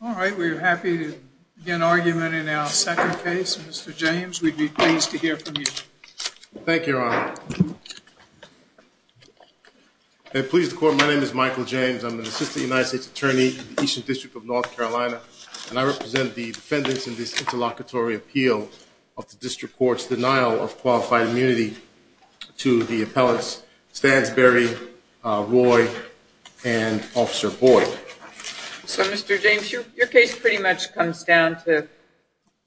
Alright, we're happy to begin argument in our second case. Mr. James, we'd be pleased to hear from you. Thank you, Your Honor. May it please the Court, my name is Michael James. I'm an assistant United States Attorney in the Eastern District of North Carolina, and I represent the defendants in this interlocutory appeal of the District Court's denial of qualified immunity to the appellants Stansberry, Roy, and Officer Boyd. So, Mr. James, your case pretty much comes down to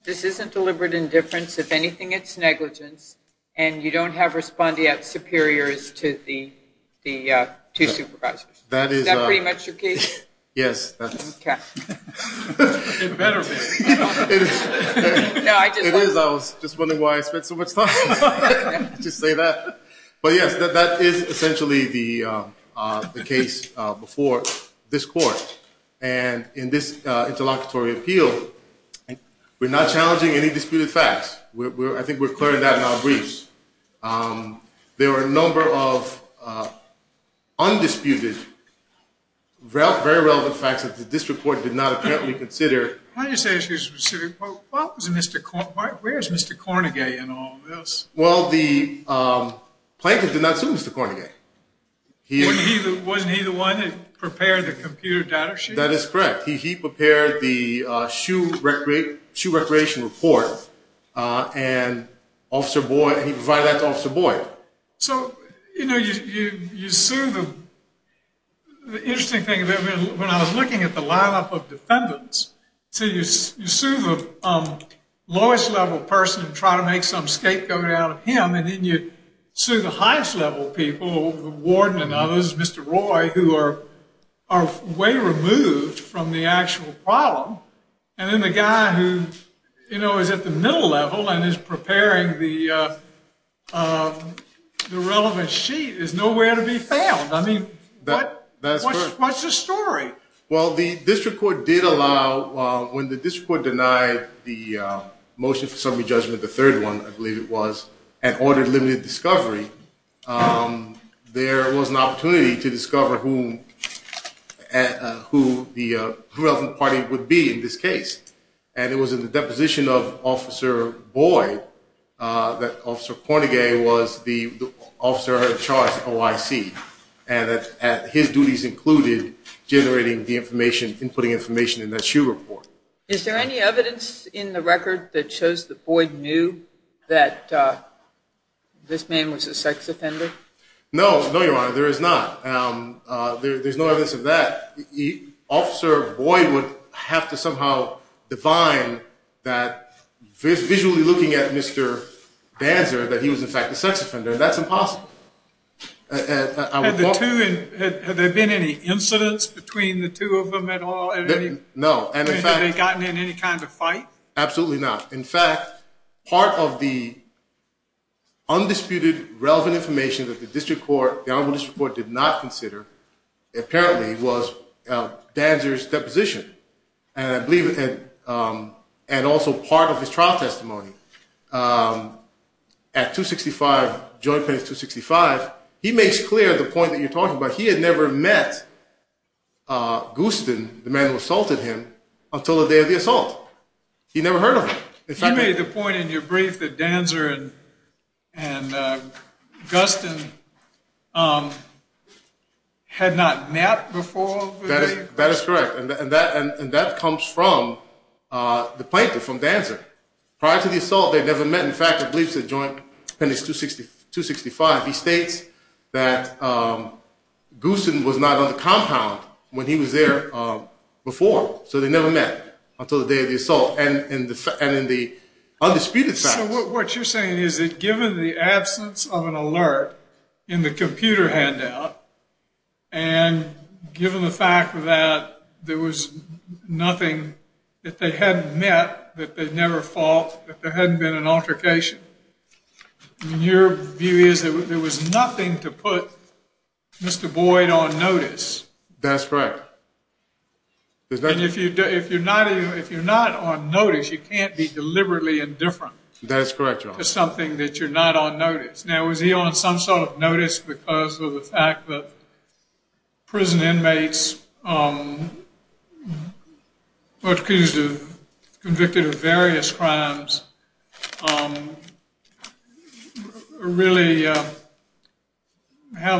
this isn't deliberate indifference. If anything, it's negligence, and you don't have respondeat superiors to the two supervisors. Is that pretty much your case? Yes. It better be. It is. I was just wondering why I spent so much time to say that. But yes, that is essentially the And in this interlocutory appeal, we're not challenging any disputed facts. I think we're clearing that in our briefs. There were a number of undisputed, very relevant facts that the District Court did not apparently consider. How do you say it's a specific quote? Where's Mr. Cornegay in all this? Well, the plaintiff did not sue Mr. Cornegay. Wasn't he the one that prepared the computer data sheet? That is correct. He prepared the shoe recreation report and Officer Boyd, he provided that to Officer Boyd. So, you know, you sue them. The interesting thing when I was looking at the lineup of defendants, so you sue the lowest level person and try to make some scapegoat out of him, and then you sue the highest level people, the warden and others, Mr. Roy, who are way removed from the actual problem. And then the guy who, you know, is at the middle level and is preparing the the relevant sheet is nowhere to be found. I mean, what's the story? Well, the District Court did allow, when the District Court denied the motion for summary judgment, the third one, I believe it was, and ordered limited discovery, there was an opportunity to discover who the relevant party would be in this case. And it was in the deposition of Officer Boyd that Officer Cornegay was the officer in charge of OIC. And his duties included generating the information, inputting information in that shoe report. Is there any evidence in the record that shows that Boyd knew that this man was a sex offender? No, no, Your Honor, there is not. There's no evidence of that. Officer Boyd would have to somehow divine that visually looking at Mr. Danzer, that he was in fact a sex offender. That's impossible. Have there been any incidents between the two of them at all? No. And have they gotten in any kind of fight? Absolutely not. In fact, part of the undisputed relevant information that the District Court, the Honorable District Court, did not consider apparently was Danzer's deposition, and I believe and also part of his trial testimony. At 265, Joint Penance 265, he makes clear the point that you're talking about. He had never met Guston, the man who assaulted him, until the day of the assault. He never heard of him. You made the point in your brief that Danzer and Guston had not met before. That is correct, and that comes from the plaintiff, from Danzer. Prior to the assault, they'd never met. In fact, I believe it's at Joint Penance 265. He states that Guston was not on the compound when he was there before, so they never met until the day of the assault and in the undisputed facts. So what you're saying is that given the absence of an alert in the computer handout and given the fact that there was nothing that they hadn't met, that they'd never fought, that there hadn't been an altercation, your view is that there was nothing to put Mr. Boyd on notice. That's correct. And if you're not on notice, you can't be deliberately indifferent. That's correct, Your Honor. To something that you're not on notice. Now, was he on some sort of notice because of the fact that prison inmates were accused of, convicted of various crimes really have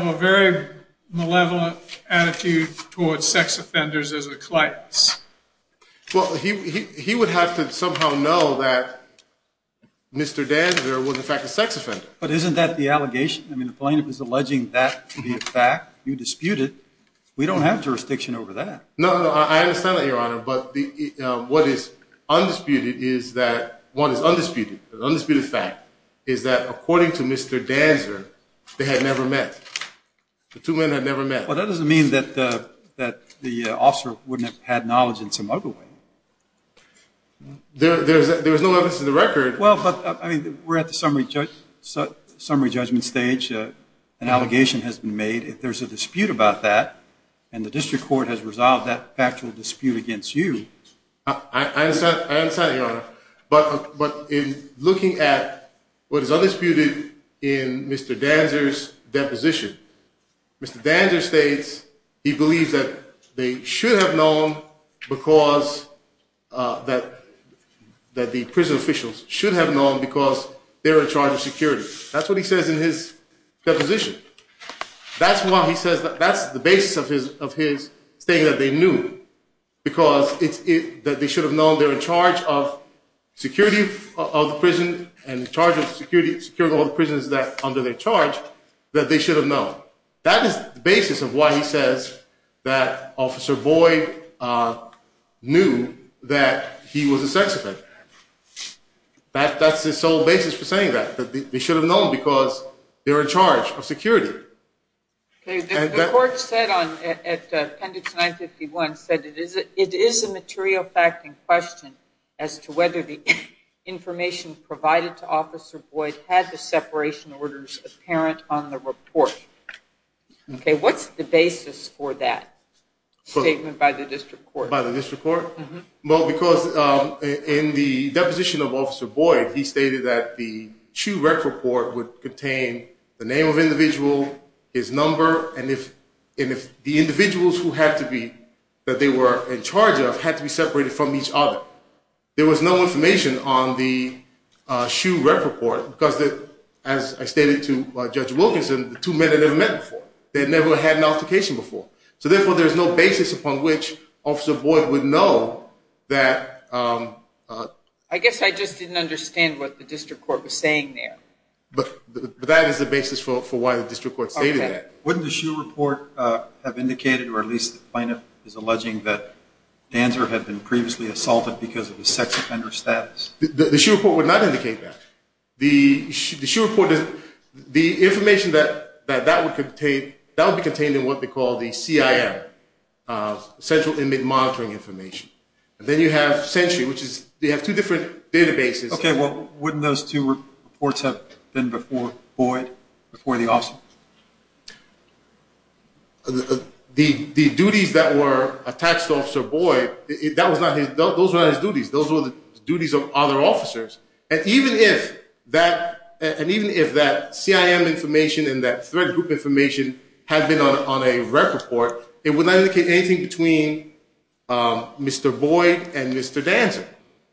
a very malevolent attitude towards sex offenders as a client? Well, he would have to somehow know that Mr. Danzer was in fact a sex offender. But isn't that the allegation? I mean, the plaintiff is alleging that to be a fact. You dispute it. We don't have jurisdiction over that. No, I understand that, Your Honor, but what is undisputed is that one is undisputed. The undisputed fact is that according to Mr. Danzer, they had never met. The two men had never met. Well, that doesn't mean that the officer wouldn't have had knowledge in some other way. There was no evidence in the record. Well, but I mean, we're at the summary judgment stage. An allegation has been made. If there's a dispute about that and the district court has resolved that factual dispute against you. I understand. I understand, Your Honor. But in looking at what is undisputed in Mr. Danzer's deposition, Mr. Danzer states he believes that they should have known because that that the prison officials should have known because they're in charge of security. That's what he says in his deposition. That's why he says that that's the basis of his of his saying that they knew because it's that they should have known they're in charge of security of the prison and in charge of security securing all the prisons that under their charge that they should have known. That is the basis of why he says that Officer Boyd knew that he was a sex offender. That that's the sole basis for saying that that they should have known because they're in charge of security. Okay, the court said on at appendix 951 said it is it is a material fact in question as to whether the information provided to Officer Boyd had the separation orders apparent on the report. Okay, what's the basis for that statement by the district court? By the district court? Well, because in the deposition of Officer Boyd, he stated that the SHU rec report would contain the name of individual, his number, and if and if the individuals who had to be that they were in charge of had to be separated from each other. There was no information on the SHU rec report because that as I stated to Judge Wilkinson, the two men had never met before. They never had an altercation before. So therefore, there's no basis upon which Officer Boyd would know that I guess I just didn't understand what the district court was saying there. But that is the basis for why the district court stated that. Wouldn't the SHU report have indicated or at least the plaintiff is alleging that Danzer had been previously assaulted because of his sex offender status? The SHU report would not indicate that. The SHU report, the information that that would contain, that would be contained in what they call the CIM, Central Inmate Monitoring Information. And then you have Century, which is they have two different databases. Okay, well, wouldn't those two reports have been before Boyd, before the officer? The duties that were attached to Officer Boyd, those were not his duties. Those were the duties of other officers and even if that and even if that CIM information and that threat group information had been on a rep report, it would not indicate anything between Mr. Boyd and Mr. Danzer.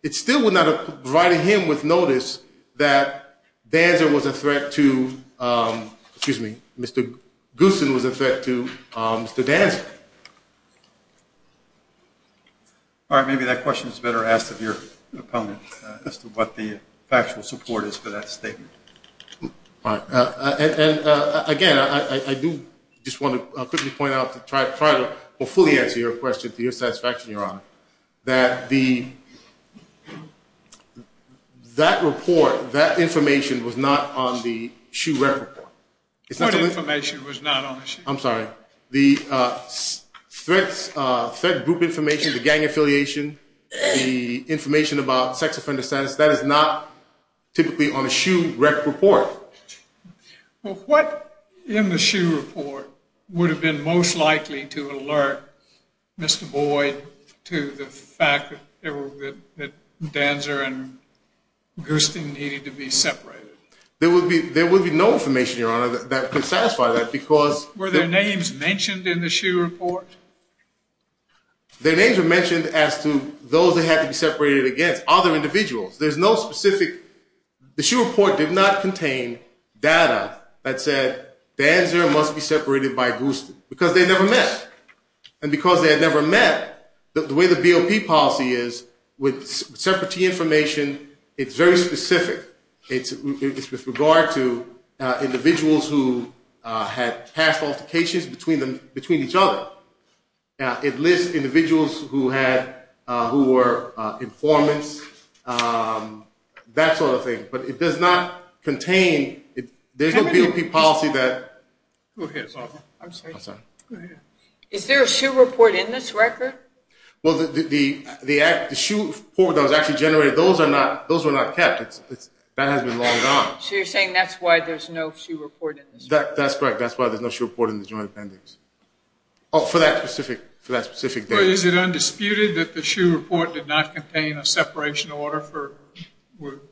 It still would not have provided him with notice that Danzer was a threat to, excuse me, Mr. Gooson was a threat to Mr. Danzer. All right, maybe that question is better asked of your opponent as to what the factual support is for that statement. All right, and again, I do just want to quickly point out to try to fully answer your question to your satisfaction, Your Honor, that the, that report, that information was not on the SHU rep report. What information was not on the SHU? I'm sorry, the threats, threat group information, the gang affiliation, the information about sex offender status, that is not typically on a SHU rep report. Well, what in the SHU report would have been most likely to alert Mr. Boyd to the fact that there were, that Danzer and Mr. Danzer had never met? There's no information, Your Honor, that could satisfy that because... Were their names mentioned in the SHU report? Their names were mentioned as to those that had to be separated against other individuals. There's no specific... The SHU report did not contain data that said Danzer must be separated by Gooson because they never met. And because they had never met, the way the BOP policy is with separate information, it's very specific. It's with regard to individuals who had past altercations between them, between each other. Now, it lists individuals who had, who were informants, that sort of thing, but it does not contain, there's no BOP policy that... Go ahead, Sergeant. I'm sorry. Is there a SHU report in this record? Well, the SHU report that was actually generated, those are not, those were not kept. That has been logged on. So you're saying that's why there's no SHU report in this record? That's correct. That's why there's no SHU report in the Joint Appendix. Oh, for that specific, for that specific case. Is it undisputed that the SHU report did not contain a separation order for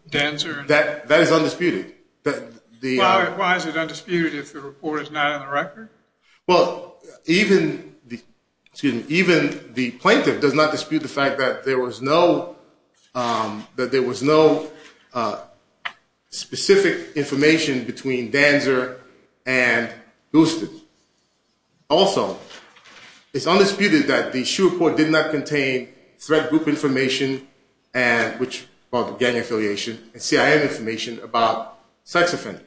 Danzer? That is undisputed. Why is it undisputed if the report is not on the record? Well, even the, excuse me, even the plaintiff does not dispute the fact that there was no, that there was no specific information between Danzer and Houston. Also, it's undisputed that the SHU report did not contain threat group information and, which brought the gang affiliation, and CIN information about sex offenders.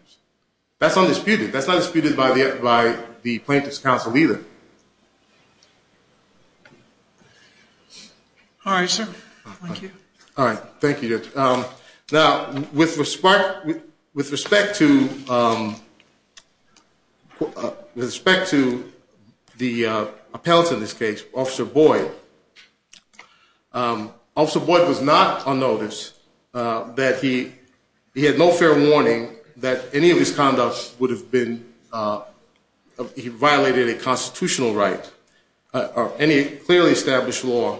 That's undisputed. That's not disputed by the, by the Plaintiff's Council either. Thank you. All right, sir. Thank you. All right. Thank you. Now, with respect, with respect to, with respect to the appellant in this case, Officer Boyd, Officer Boyd was not on notice, that he, he had no fair warning that any of his conducts would have been, he violated a constitutional right, or any clearly established law,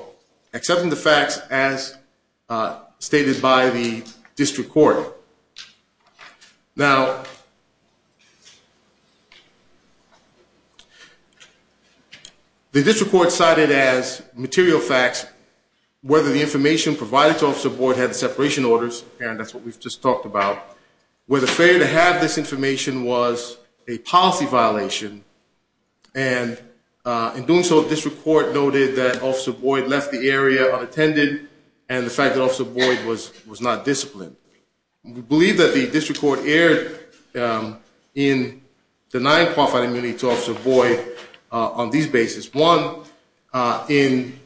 accepting the facts as stated by the district court. Now, the district court cited as material facts whether the information provided to Officer Boyd had separation orders, and that's what we've just talked about, where the failure to have this information was a policy violation. And, in doing so, district court noted that Officer Boyd left the area unattended, and the fact that Officer Boyd was, was not disciplined. We believe that the district court erred in denying qualified immunity to Officer Boyd on these basis. One, in,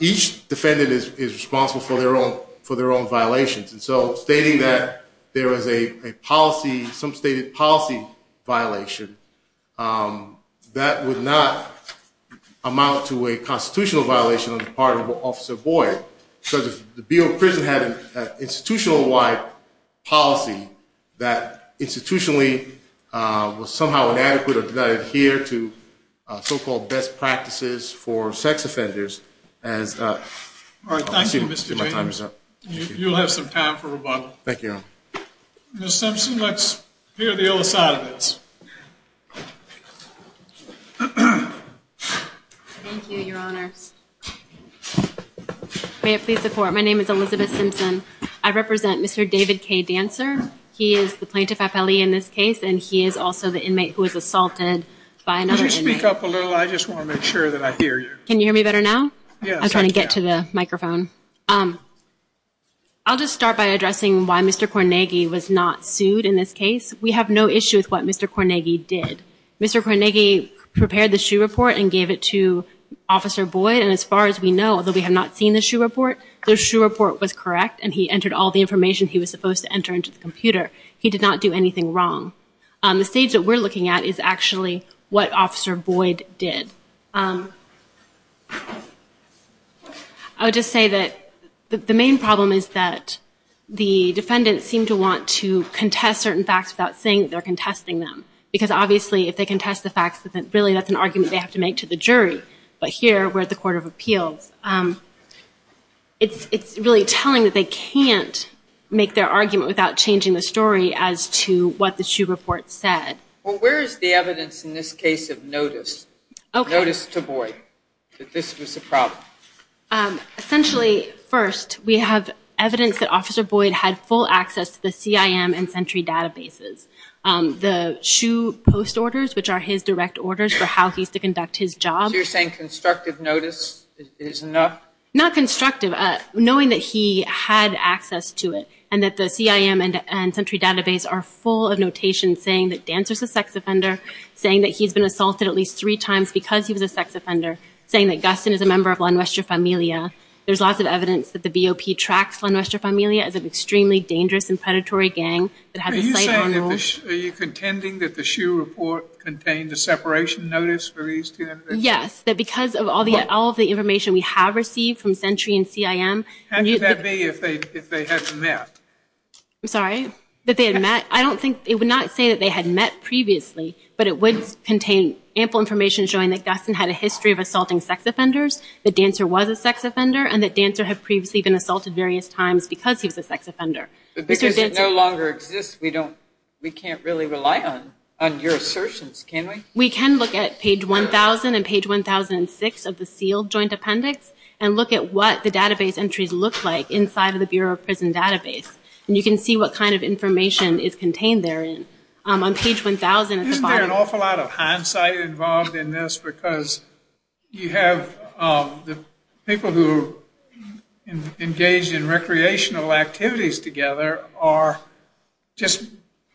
each defendant is responsible for their own, for their own violations. And so, stating that there was a policy, some stated policy violation, that would not amount to a constitutional violation on the part of Officer Boyd. So, if the Bureau of Prison had an institutional-wide policy that, institutionally, was somehow inadequate or did not adhere to so-called best practices for sex offenders as, All right. Thank you, Mr. James. You'll have some time for rebuttal. Thank you, Your Honor. Ms. Simpson, let's hear the other side of this. Thank you, Your Honors. May it please the court, my name is Elizabeth Simpson. I represent Mr. David K. Dancer. He is the plaintiff appellee in this case, and he is also the inmate who was assaulted by another inmate. Would you speak up a little? I just want to make sure that I hear you. Can you hear me better now? Yes, I can. I'm trying to get to the microphone. I'll just start by addressing why Mr. Cornegi was not sued in this case. We have no issue with what Mr. Cornegi did. Mr. Cornegi prepared the SHU report and gave it to Officer Boyd, and as far as we know, although we have not seen the SHU report, the SHU report was correct, and he entered all the information he was supposed to enter into the computer. He did not do anything wrong. The stage that we're looking at is actually what Officer Boyd did. I would just say that the main problem is that the defendants seem to want to contest certain facts without saying that they're contesting them, because obviously, if they contest the facts, then really that's an argument they have to make to the jury. But here, we're at the Court of Appeals. It's really telling that they can't make their argument without changing the story as to what the SHU report said. Well, where is the evidence in this case of notice? Notice to Boyd that this was a problem. Essentially, first, we have evidence that Officer Boyd had full access to the CIM and Sentry databases. The SHU post orders, which are his direct orders for how he's to conduct his job. So you're saying constructive notice is enough? Not constructive. Knowing that he had access to it, and that the CIM and Sentry database are full of notations saying that Dancer's a sex offender, saying that he's been assaulted at least three times because he was a sex offender, saying that Gustin is a member of La Nuestra Familia. There's lots of evidence that the BOP tracks La Nuestra Familia as an extremely dangerous and predatory gang that had the same rules. Are you contending that the SHU report contained the separation notice for these two individuals? Yes, that because of all the all of the information we have received from Sentry and CIM. How could that be if they if they had met? I'm, sorry, that they had met. I don't think it would not say that they had met previously, but it would contain ample information showing that Gustin had a history of assaulting sex offenders, that Dancer was a sex offender, and that Dancer had previously been assaulted various times because he was a sex offender. But because it no longer exists, we don't, we can't really rely on on your assertions, can we? We can look at page 1,000 and page 1,006 of the sealed joint appendix and look at what the database entries look like inside of the Bureau of Prison database, and you can see what kind of information is contained there in on page 1,000. Isn't there an awful lot of hindsight involved in this because you have the people who engage in recreational activities together are just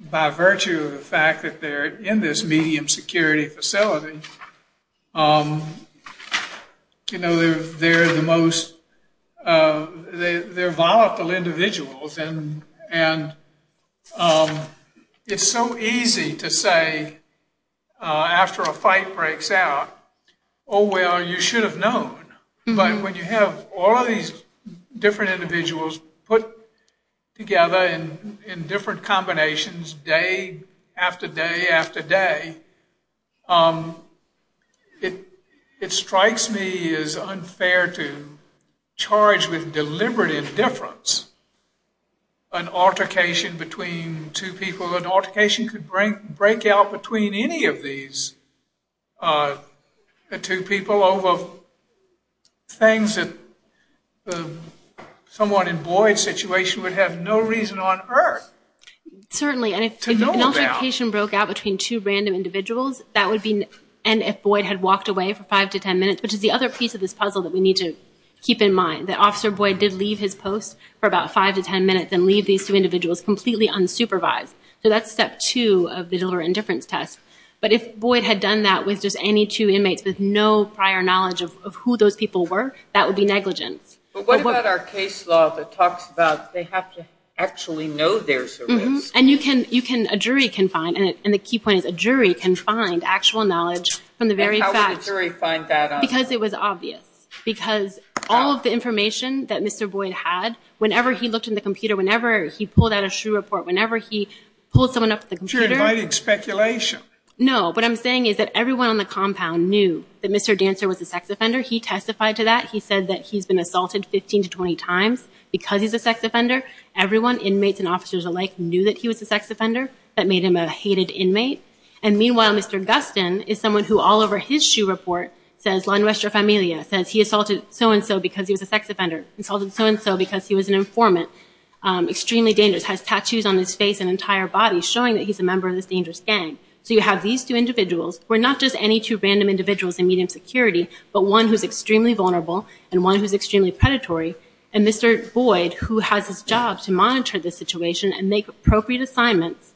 by virtue of the fact that they're in this medium security facility, you know, they're the most, they're volatile individuals and it's so easy to say after a fight breaks out, oh, well, you should have known. But when you have all of these different individuals put together in different combinations day after day after day, it strikes me as unfair to charge with deliberate indifference an altercation between two people, an altercation could break out between any of these two people over things that the someone in Boyd's situation would have no reason on earth to know about. Certainly, and if an altercation broke out between two random individuals, that would be, and if Boyd had walked away for five to ten minutes, which is the other piece of this puzzle that we need to keep in mind, that Officer Boyd did leave his post for about five to ten minutes and leave these two individuals completely unsupervised. So that's step two of the deliberate indifference test. But if Boyd had done that with just any two inmates with no prior knowledge of who those people were, that would be negligence. But what about our case law that talks about they have to actually know there's a risk? And you can, you can, a jury can find, and the key point is a jury can find actual knowledge from the very facts. And how would a jury find that out? Because it was obvious. Because all of the information that Mr. Boyd had, whenever he looked in the computer, whenever he pulled out a shoe report, whenever he pulled someone up to the computer. You're inviting speculation. No, what I'm saying is that everyone on the compound knew that Mr. Dancer was a sex offender. He testified to that. He said that he's been assaulted 15 to 20 times because he's a sex offender. Everyone, inmates and officers alike, knew that he was a sex offender. That made him a hated inmate. And meanwhile, Mr. Gustin is someone who all over his shoe report says, La Nuestra Familia, says he assaulted so-and-so because he was a sex offender. Insulted so-and-so because he was an informant. Extremely dangerous. Has tattoos on his face and entire body showing that he's a member of this dangerous gang. So you have these two individuals, who are not just any two random individuals in medium security, but one who's extremely vulnerable and one who's extremely predatory. And Mr. Boyd, who has his job to monitor this situation and make appropriate assignments,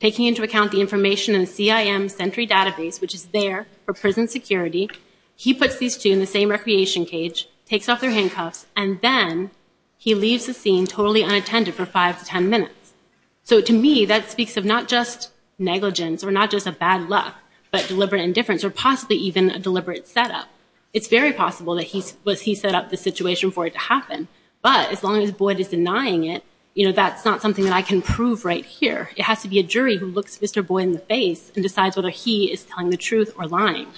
taking into account the information in the CIM Sentry Database, which is there for prison security, he puts these two in the same recreation cage, takes off their handcuffs, and then he leaves the scene totally unattended for five to ten minutes. So to me, that speaks of not just negligence or not just a bad luck, but deliberate indifference or possibly even a deliberate setup. It's very possible that he set up the situation for it to happen. But as long as Boyd is denying it, you know, that's not something that I can prove right here. It has to be a jury who looks Mr. Boyd in the face and decides whether he is telling the truth or lying.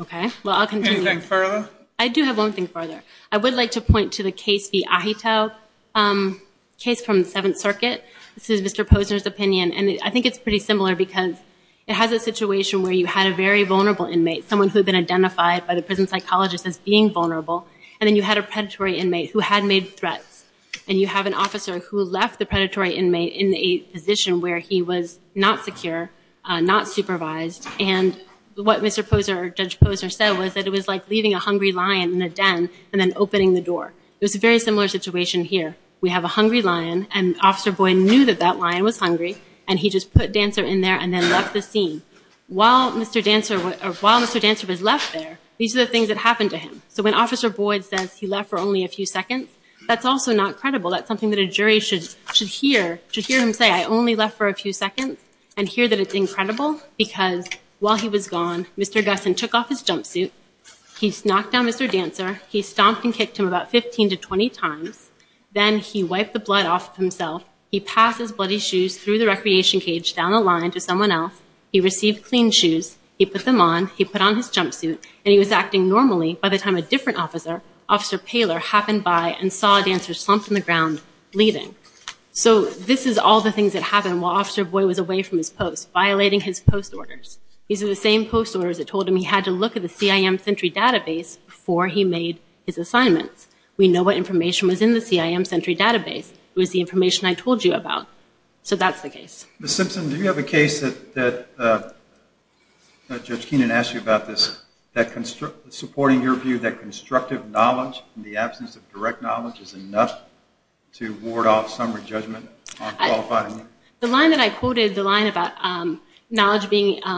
Okay, well, I'll continue. Anything further? I do have one thing further. I would like to point to the case v. Ahito, a case from the Seventh Circuit. This is Mr. Posner's opinion. And I think it's pretty similar because it has a situation where you had a very vulnerable inmate, someone who had been identified by the prison psychologist as being vulnerable, and then you had a predatory inmate who had made threats. And you have an officer who left the predatory inmate in a position where he was not secure, not supervised, and what Mr. Posner or Judge Posner said was that it was like leaving a hungry lion in a den and then opening the door. It was a very similar situation here. We have a hungry lion, and Officer Boyd knew that that lion was hungry, and he just put Dancer in there and then left the scene. While Mr. Dancer was left there, these are the things that happened to him. So when Officer Boyd says he left for only a few seconds, that's also not credible. That's something that a jury should hear him say, I only left for a few seconds, and hear that it's incredible because while he was gone, Mr. Gusson took off his jumpsuit, he knocked down Mr. Dancer, he stomped and kicked him about 15 to 20 times, then he wiped the blood off of himself, he passed his bloody shoes through the recreation cage down the line to someone else, he received clean shoes, he put them on, he put on his jumpsuit, and he was acting normally by the time a different officer, Officer Paylor, happened by and saw Dancer slumped on the ground, leaving. So this is all the things that happened while Officer Boyd was away from his post, violating his post orders. These are the same post orders that told him he had to look at the CIM Sentry Database before he made his assignments. We know what information was in the CIM Sentry Database. It was the information I told you about. So that's the case. Ms. Simpson, do you have a case that Judge Keenan asked you about this, that supporting your view that constructive knowledge in the absence of direct knowledge is enough to ward off summary judgment on qualifying? The line that I quoted, the line about knowledge being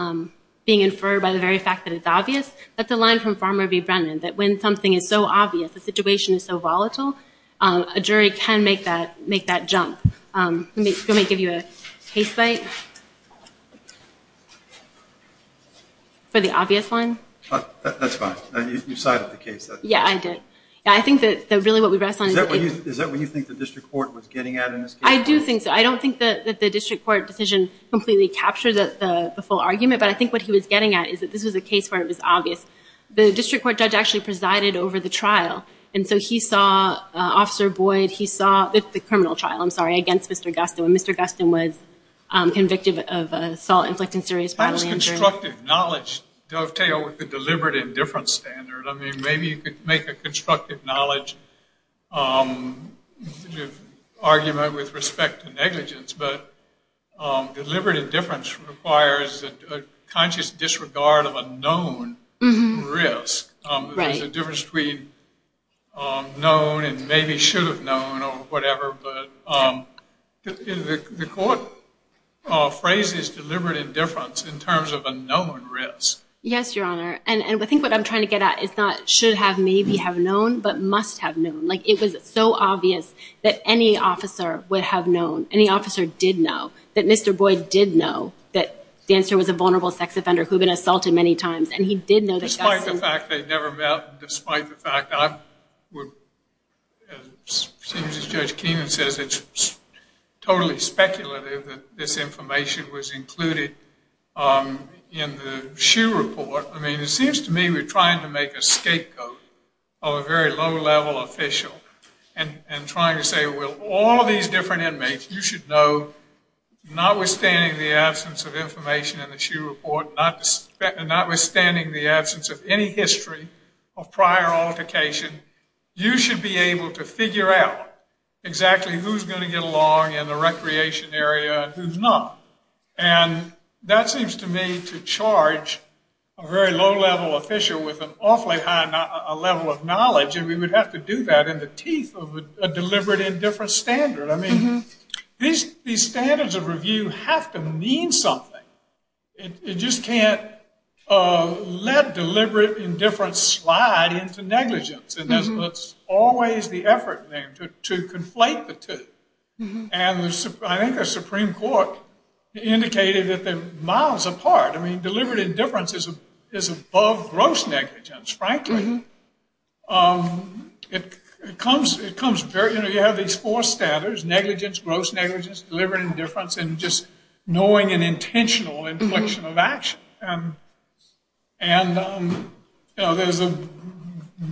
inferred by the very fact that it's obvious, that's a line from Farmer v. Brennan, that when something is so obvious, the situation is so volatile, a jury can make that jump. Let me give you a case site for the obvious line. That's fine. You cited the case. Yeah, I did. I think that really what we rest on. Is that what you think the district court was getting at in this case? I do think so. I don't think that the district court decision completely captured the full argument, but I think what he was getting at is that this was a case where it was obvious. The district court judge actually presided over the trial. And so he saw Officer Boyd, he saw the criminal trial, I'm sorry, against Mr. Gustin, when Mr. Gustin was convicted of assault, inflicting serious bodily injury. How does constructive knowledge dovetail with the deliberate indifference standard? I mean, maybe you could make a constructive knowledge argument with respect to negligence, but deliberate indifference requires a conscious disregard of a known risk. There's a difference between known and maybe should have known or whatever, but the court phrase is deliberate indifference in terms of a known risk. Yes, Your Honor. And I think what I'm trying to get at is not should have maybe have known, but must have known. It was so obvious that any officer would have known, any officer did know, that Mr. Boyd did know that Dancer was a vulnerable sex offender who had been assaulted many times, and he did know that- Despite the fact they'd never met, despite the fact I would, seems as Judge Keenan says, it's totally speculative that this information was included in the SHU report. I mean, it seems to me we're trying to make a scapegoat of a very low-level official and trying to say, well, all of these different inmates you should know, notwithstanding the absence of information in the SHU report, notwithstanding the absence of any history of prior altercation, you should be able to figure out exactly who's going to get along in the recreation area and who's not. And that seems to me to charge a very low-level official with an awfully high level of knowledge, and we would have to do that in the teeth of a deliberate indifference standard. I mean, these standards of review have to mean something. It just can't let deliberate indifference slide into negligence, and that's always the effort there to conflate the two. And I think the Supreme Court indicated that they're miles apart. I mean, deliberate indifference is above gross negligence, frankly. You have these four standards, negligence, gross negligence, deliberate indifference, and just knowing an intentional inflection of action. And there's a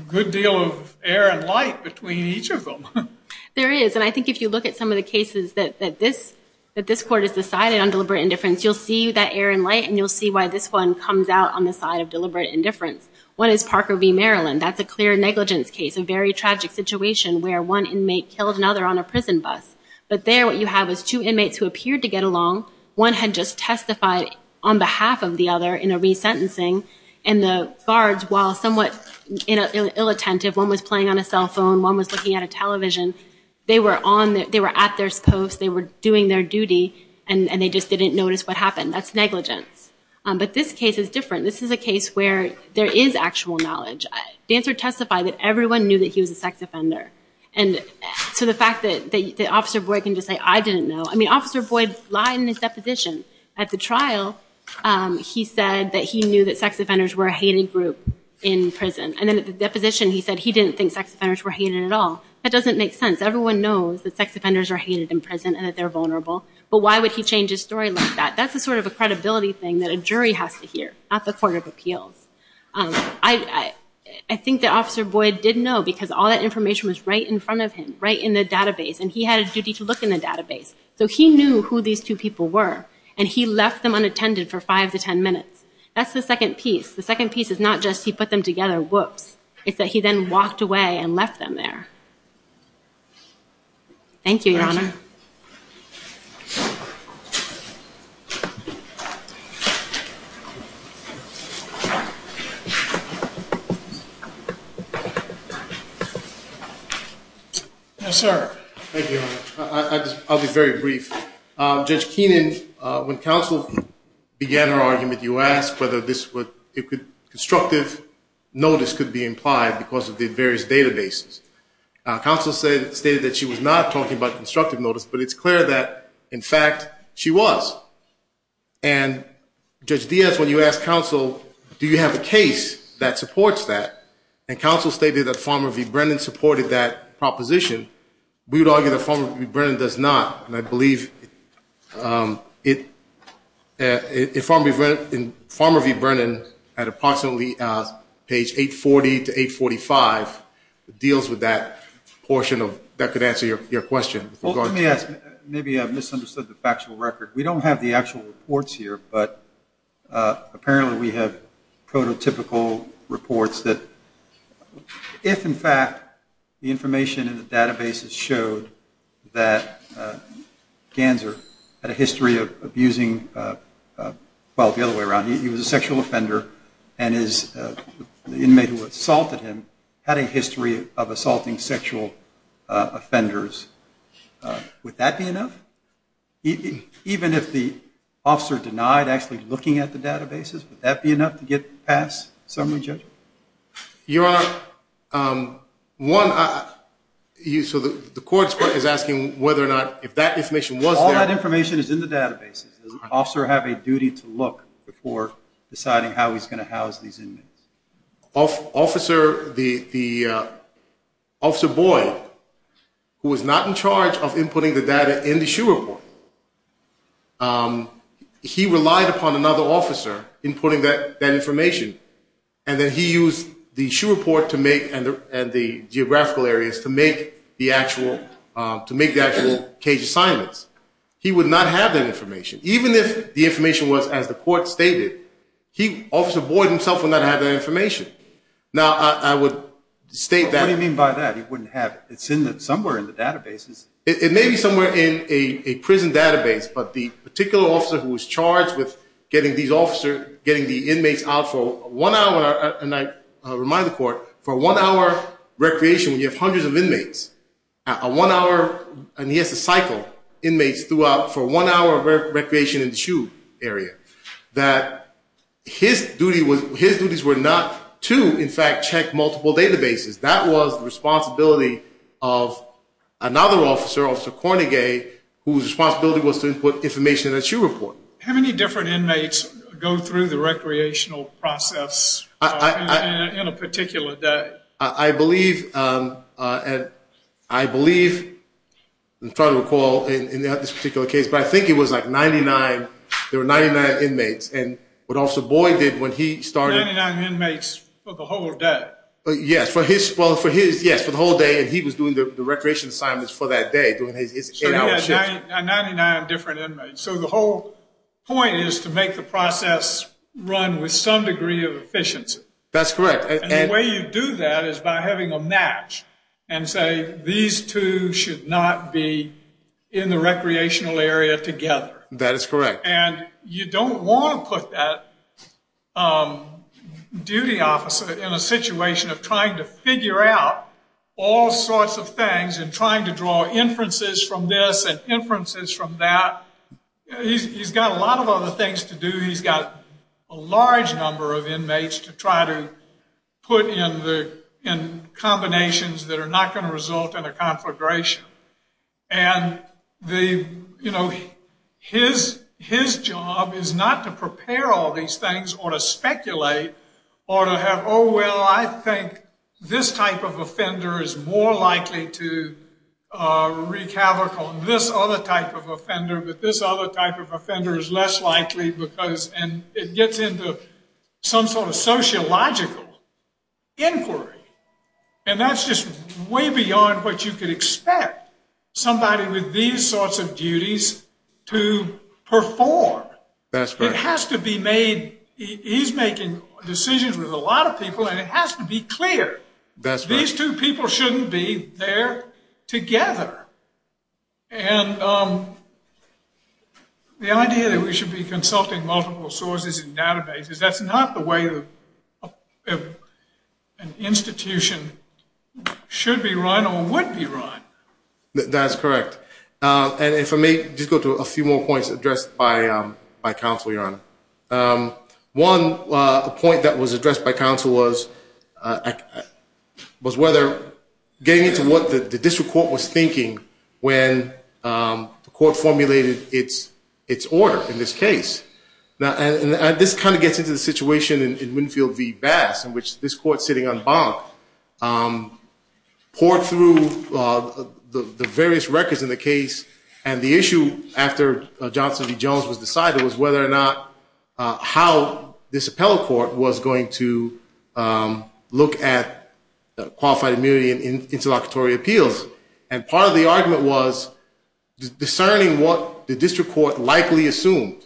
good deal of air and light between each of them. There is, and I think if you look at some of the cases that this court has decided on deliberate indifference, you'll see that air and light, and you'll see why this one comes out on the side of deliberate indifference. One is Parker v. Maryland. That's a clear negligence case, a very tragic situation where one inmate killed another on a prison bus. But there what you have is two inmates who appeared to get along. One had just testified on behalf of the other in a resentencing, and the guards, while somewhat ill-attentive, one was playing on a cell phone, one was looking at a television. They were at their post, they were doing their duty, and they just didn't notice what happened. That's negligence. But this case is different. This is a case where there is actual knowledge. The answer testified that everyone knew that he was a sex offender. And so the fact that Officer Boyd can just say, I didn't know. I mean, Officer Boyd lied in his deposition. At the trial, he said that he knew that sex offenders were a hated group in prison. And then at the deposition, he said he didn't think sex offenders were hated at all. That doesn't make sense. Everyone knows that sex offenders are hated in prison and that they're vulnerable. But why would he change his story like that? That's a sort of a credibility thing that a jury has to hear, not the court of appeals. I think that Officer Boyd did know because all that information was right in front of him, right in the database, and he had a duty to look in the database. So he knew who these two people were, and he left them unattended for five to ten minutes. That's the second piece. The second piece is not just he put them together, whoops. It's that he then walked away and left them there. Thank you, Your Honor. Judge Keenan? Yes, sir. Thank you, Your Honor. I'll be very brief. Judge Keenan, when counsel began her argument, you asked whether this would, if constructive notice could be implied because of the various databases. Counsel stated that she was not talking about constructive notice, but it's clear that, in fact, she was. And Judge Diaz, when you asked counsel, do you have a case that supports that? And counsel stated that Farmer v. Brennan supported that proposition. We would argue that Farmer v. Brennan does not, and I believe it in Farmer v. Brennan at approximately page 840 to 845 deals with that portion of, that could answer your question. Well, let me ask, maybe I've misunderstood the factual record. We don't have the actual reports here, but apparently we have prototypical reports that if, in fact, the information in the databases showed that Ganser had a history of abusing, well, the other way around, he was a sexual offender and his inmate who assaulted him had a history of assaulting sexual offenders. Would that be enough? Even if the officer denied actually looking at the databases, would that be enough to get past summary judgment? Your Honor, one, so the court is asking whether or not if that information was there. All that information is in the databases. Does the officer have a duty to look before deciding how he's going to house these inmates? Officer, the Officer Boyd, who was not in charge of inputting the data in the SHU report, he relied upon another officer inputting that information and then he used the SHU report to make, and the geographical areas to make the actual to make the actual cage assignments. He would not have that information. Even if the information was as the court stated, Officer Boyd himself would not have that information. Now, I would state that. What do you mean by that? He wouldn't have it. It's somewhere in the databases. It may be somewhere in a prison database, but the particular officer who was charged with getting these officer, getting the inmates out for one hour, and I remind the court, for one hour recreation, when you have hundreds of inmates, a one hour, and he has to cycle inmates throughout, for one hour of recreation in the SHU area, that his duty was, his duties were not to, in fact, check multiple databases. That was the responsibility of another officer, Officer Cornegay, whose responsibility was to input information in the SHU report. How many different inmates go through the recreational process in a particular day? I believe, and I believe, I'm trying to recall in this particular case, but I think it was like 99. There were 99 inmates, and what Officer Boyd did when he started. 99 inmates for the whole day. Yes, for his, well, for his, yes, for the whole day, and he was doing the recreation assignments for that day, doing his eight hour shift. 99 different inmates. So the whole point is to make the process run with some degree of efficiency. That's correct. And the way you do that is by having a match and say these two should not be in the recreational area together. That is correct. And you don't want to put that duty officer in a situation of trying to figure out all sorts of things and trying to draw inferences from this and inferences from that. He's got a lot of other things to do. He's got a large number of inmates to try to put in the, in combinations that are not going to result in a conflagration. And the, you know, his, his job is not to prepare all these things or to speculate or to have, oh, well, I think this type of offender is more likely to wreak havoc on this other type of offender, but this other type of offender is less likely because, and it gets into some sort of sociological inquiry. And that's just way beyond what you could expect somebody with these sorts of duties to perform. That's right. It has to be made. He's making decisions with a lot of people and it has to be clear that these two people shouldn't be there together. And the idea that we should be consulting multiple sources and databases, that's not the way to, an institution should be run or would be run. That's correct. And if I may just go to a few more points addressed by, by counsel, Your Honor. One point that was addressed by counsel was was whether getting into what the district court was thinking when the court formulated its order in this case. Now, and this kind of gets into the situation in Winfield v. Bass in which this court sitting on Bonk poured through the various records in the case and the issue after Johnson v. Jones was decided was whether or not how this appellate court was going to look at qualified immunity in interlocutory appeals. And part of the argument was discerning what the district court likely assumed.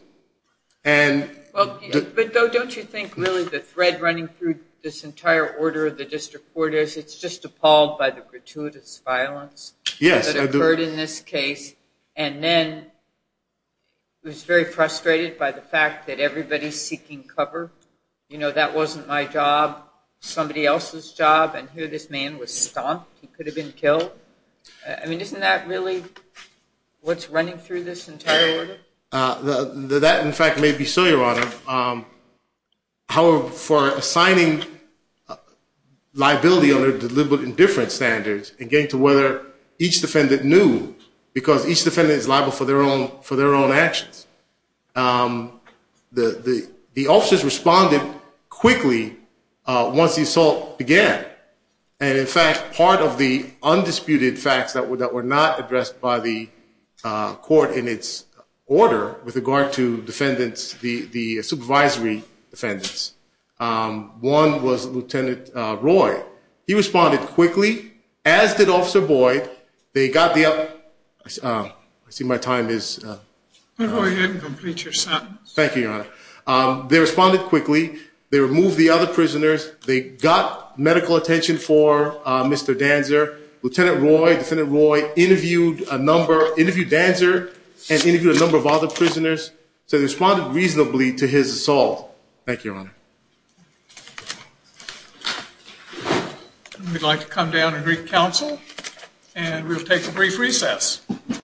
And well, but don't you think really the thread running through this entire order of the district court is it's just appalled by the gratuitous violence that occurred in this case and then it was very frustrated by the fact that everybody's seeking cover. You know, that wasn't my job, somebody else's job, and here this man was stomped. He could have been killed. I mean, isn't that really what's running through this entire order? That, in fact, may be so, your honor. However, for assigning liability under deliberate indifference standards and getting to whether each defendant knew because each defendant is liable for their own actions, the officers responded quickly once the assault began and, in fact, part of the undisputed facts that were not addressed by the order with regard to defendants, the supervisory defendants, one was Lieutenant Roy. He responded quickly, as did Officer Boyd. They got the up... I see my time is... Go ahead and complete your sentence. Thank you, your honor. They responded quickly. They removed the other prisoners. They got medical attention for Mr. Danzer. Lieutenant Roy, Defendant Roy interviewed a number, interviewed Danzer, and interviewed a number of other prisoners, so they responded reasonably to his assault. Thank you, your honor. We'd like to come down and greet counsel and we'll take a brief recess.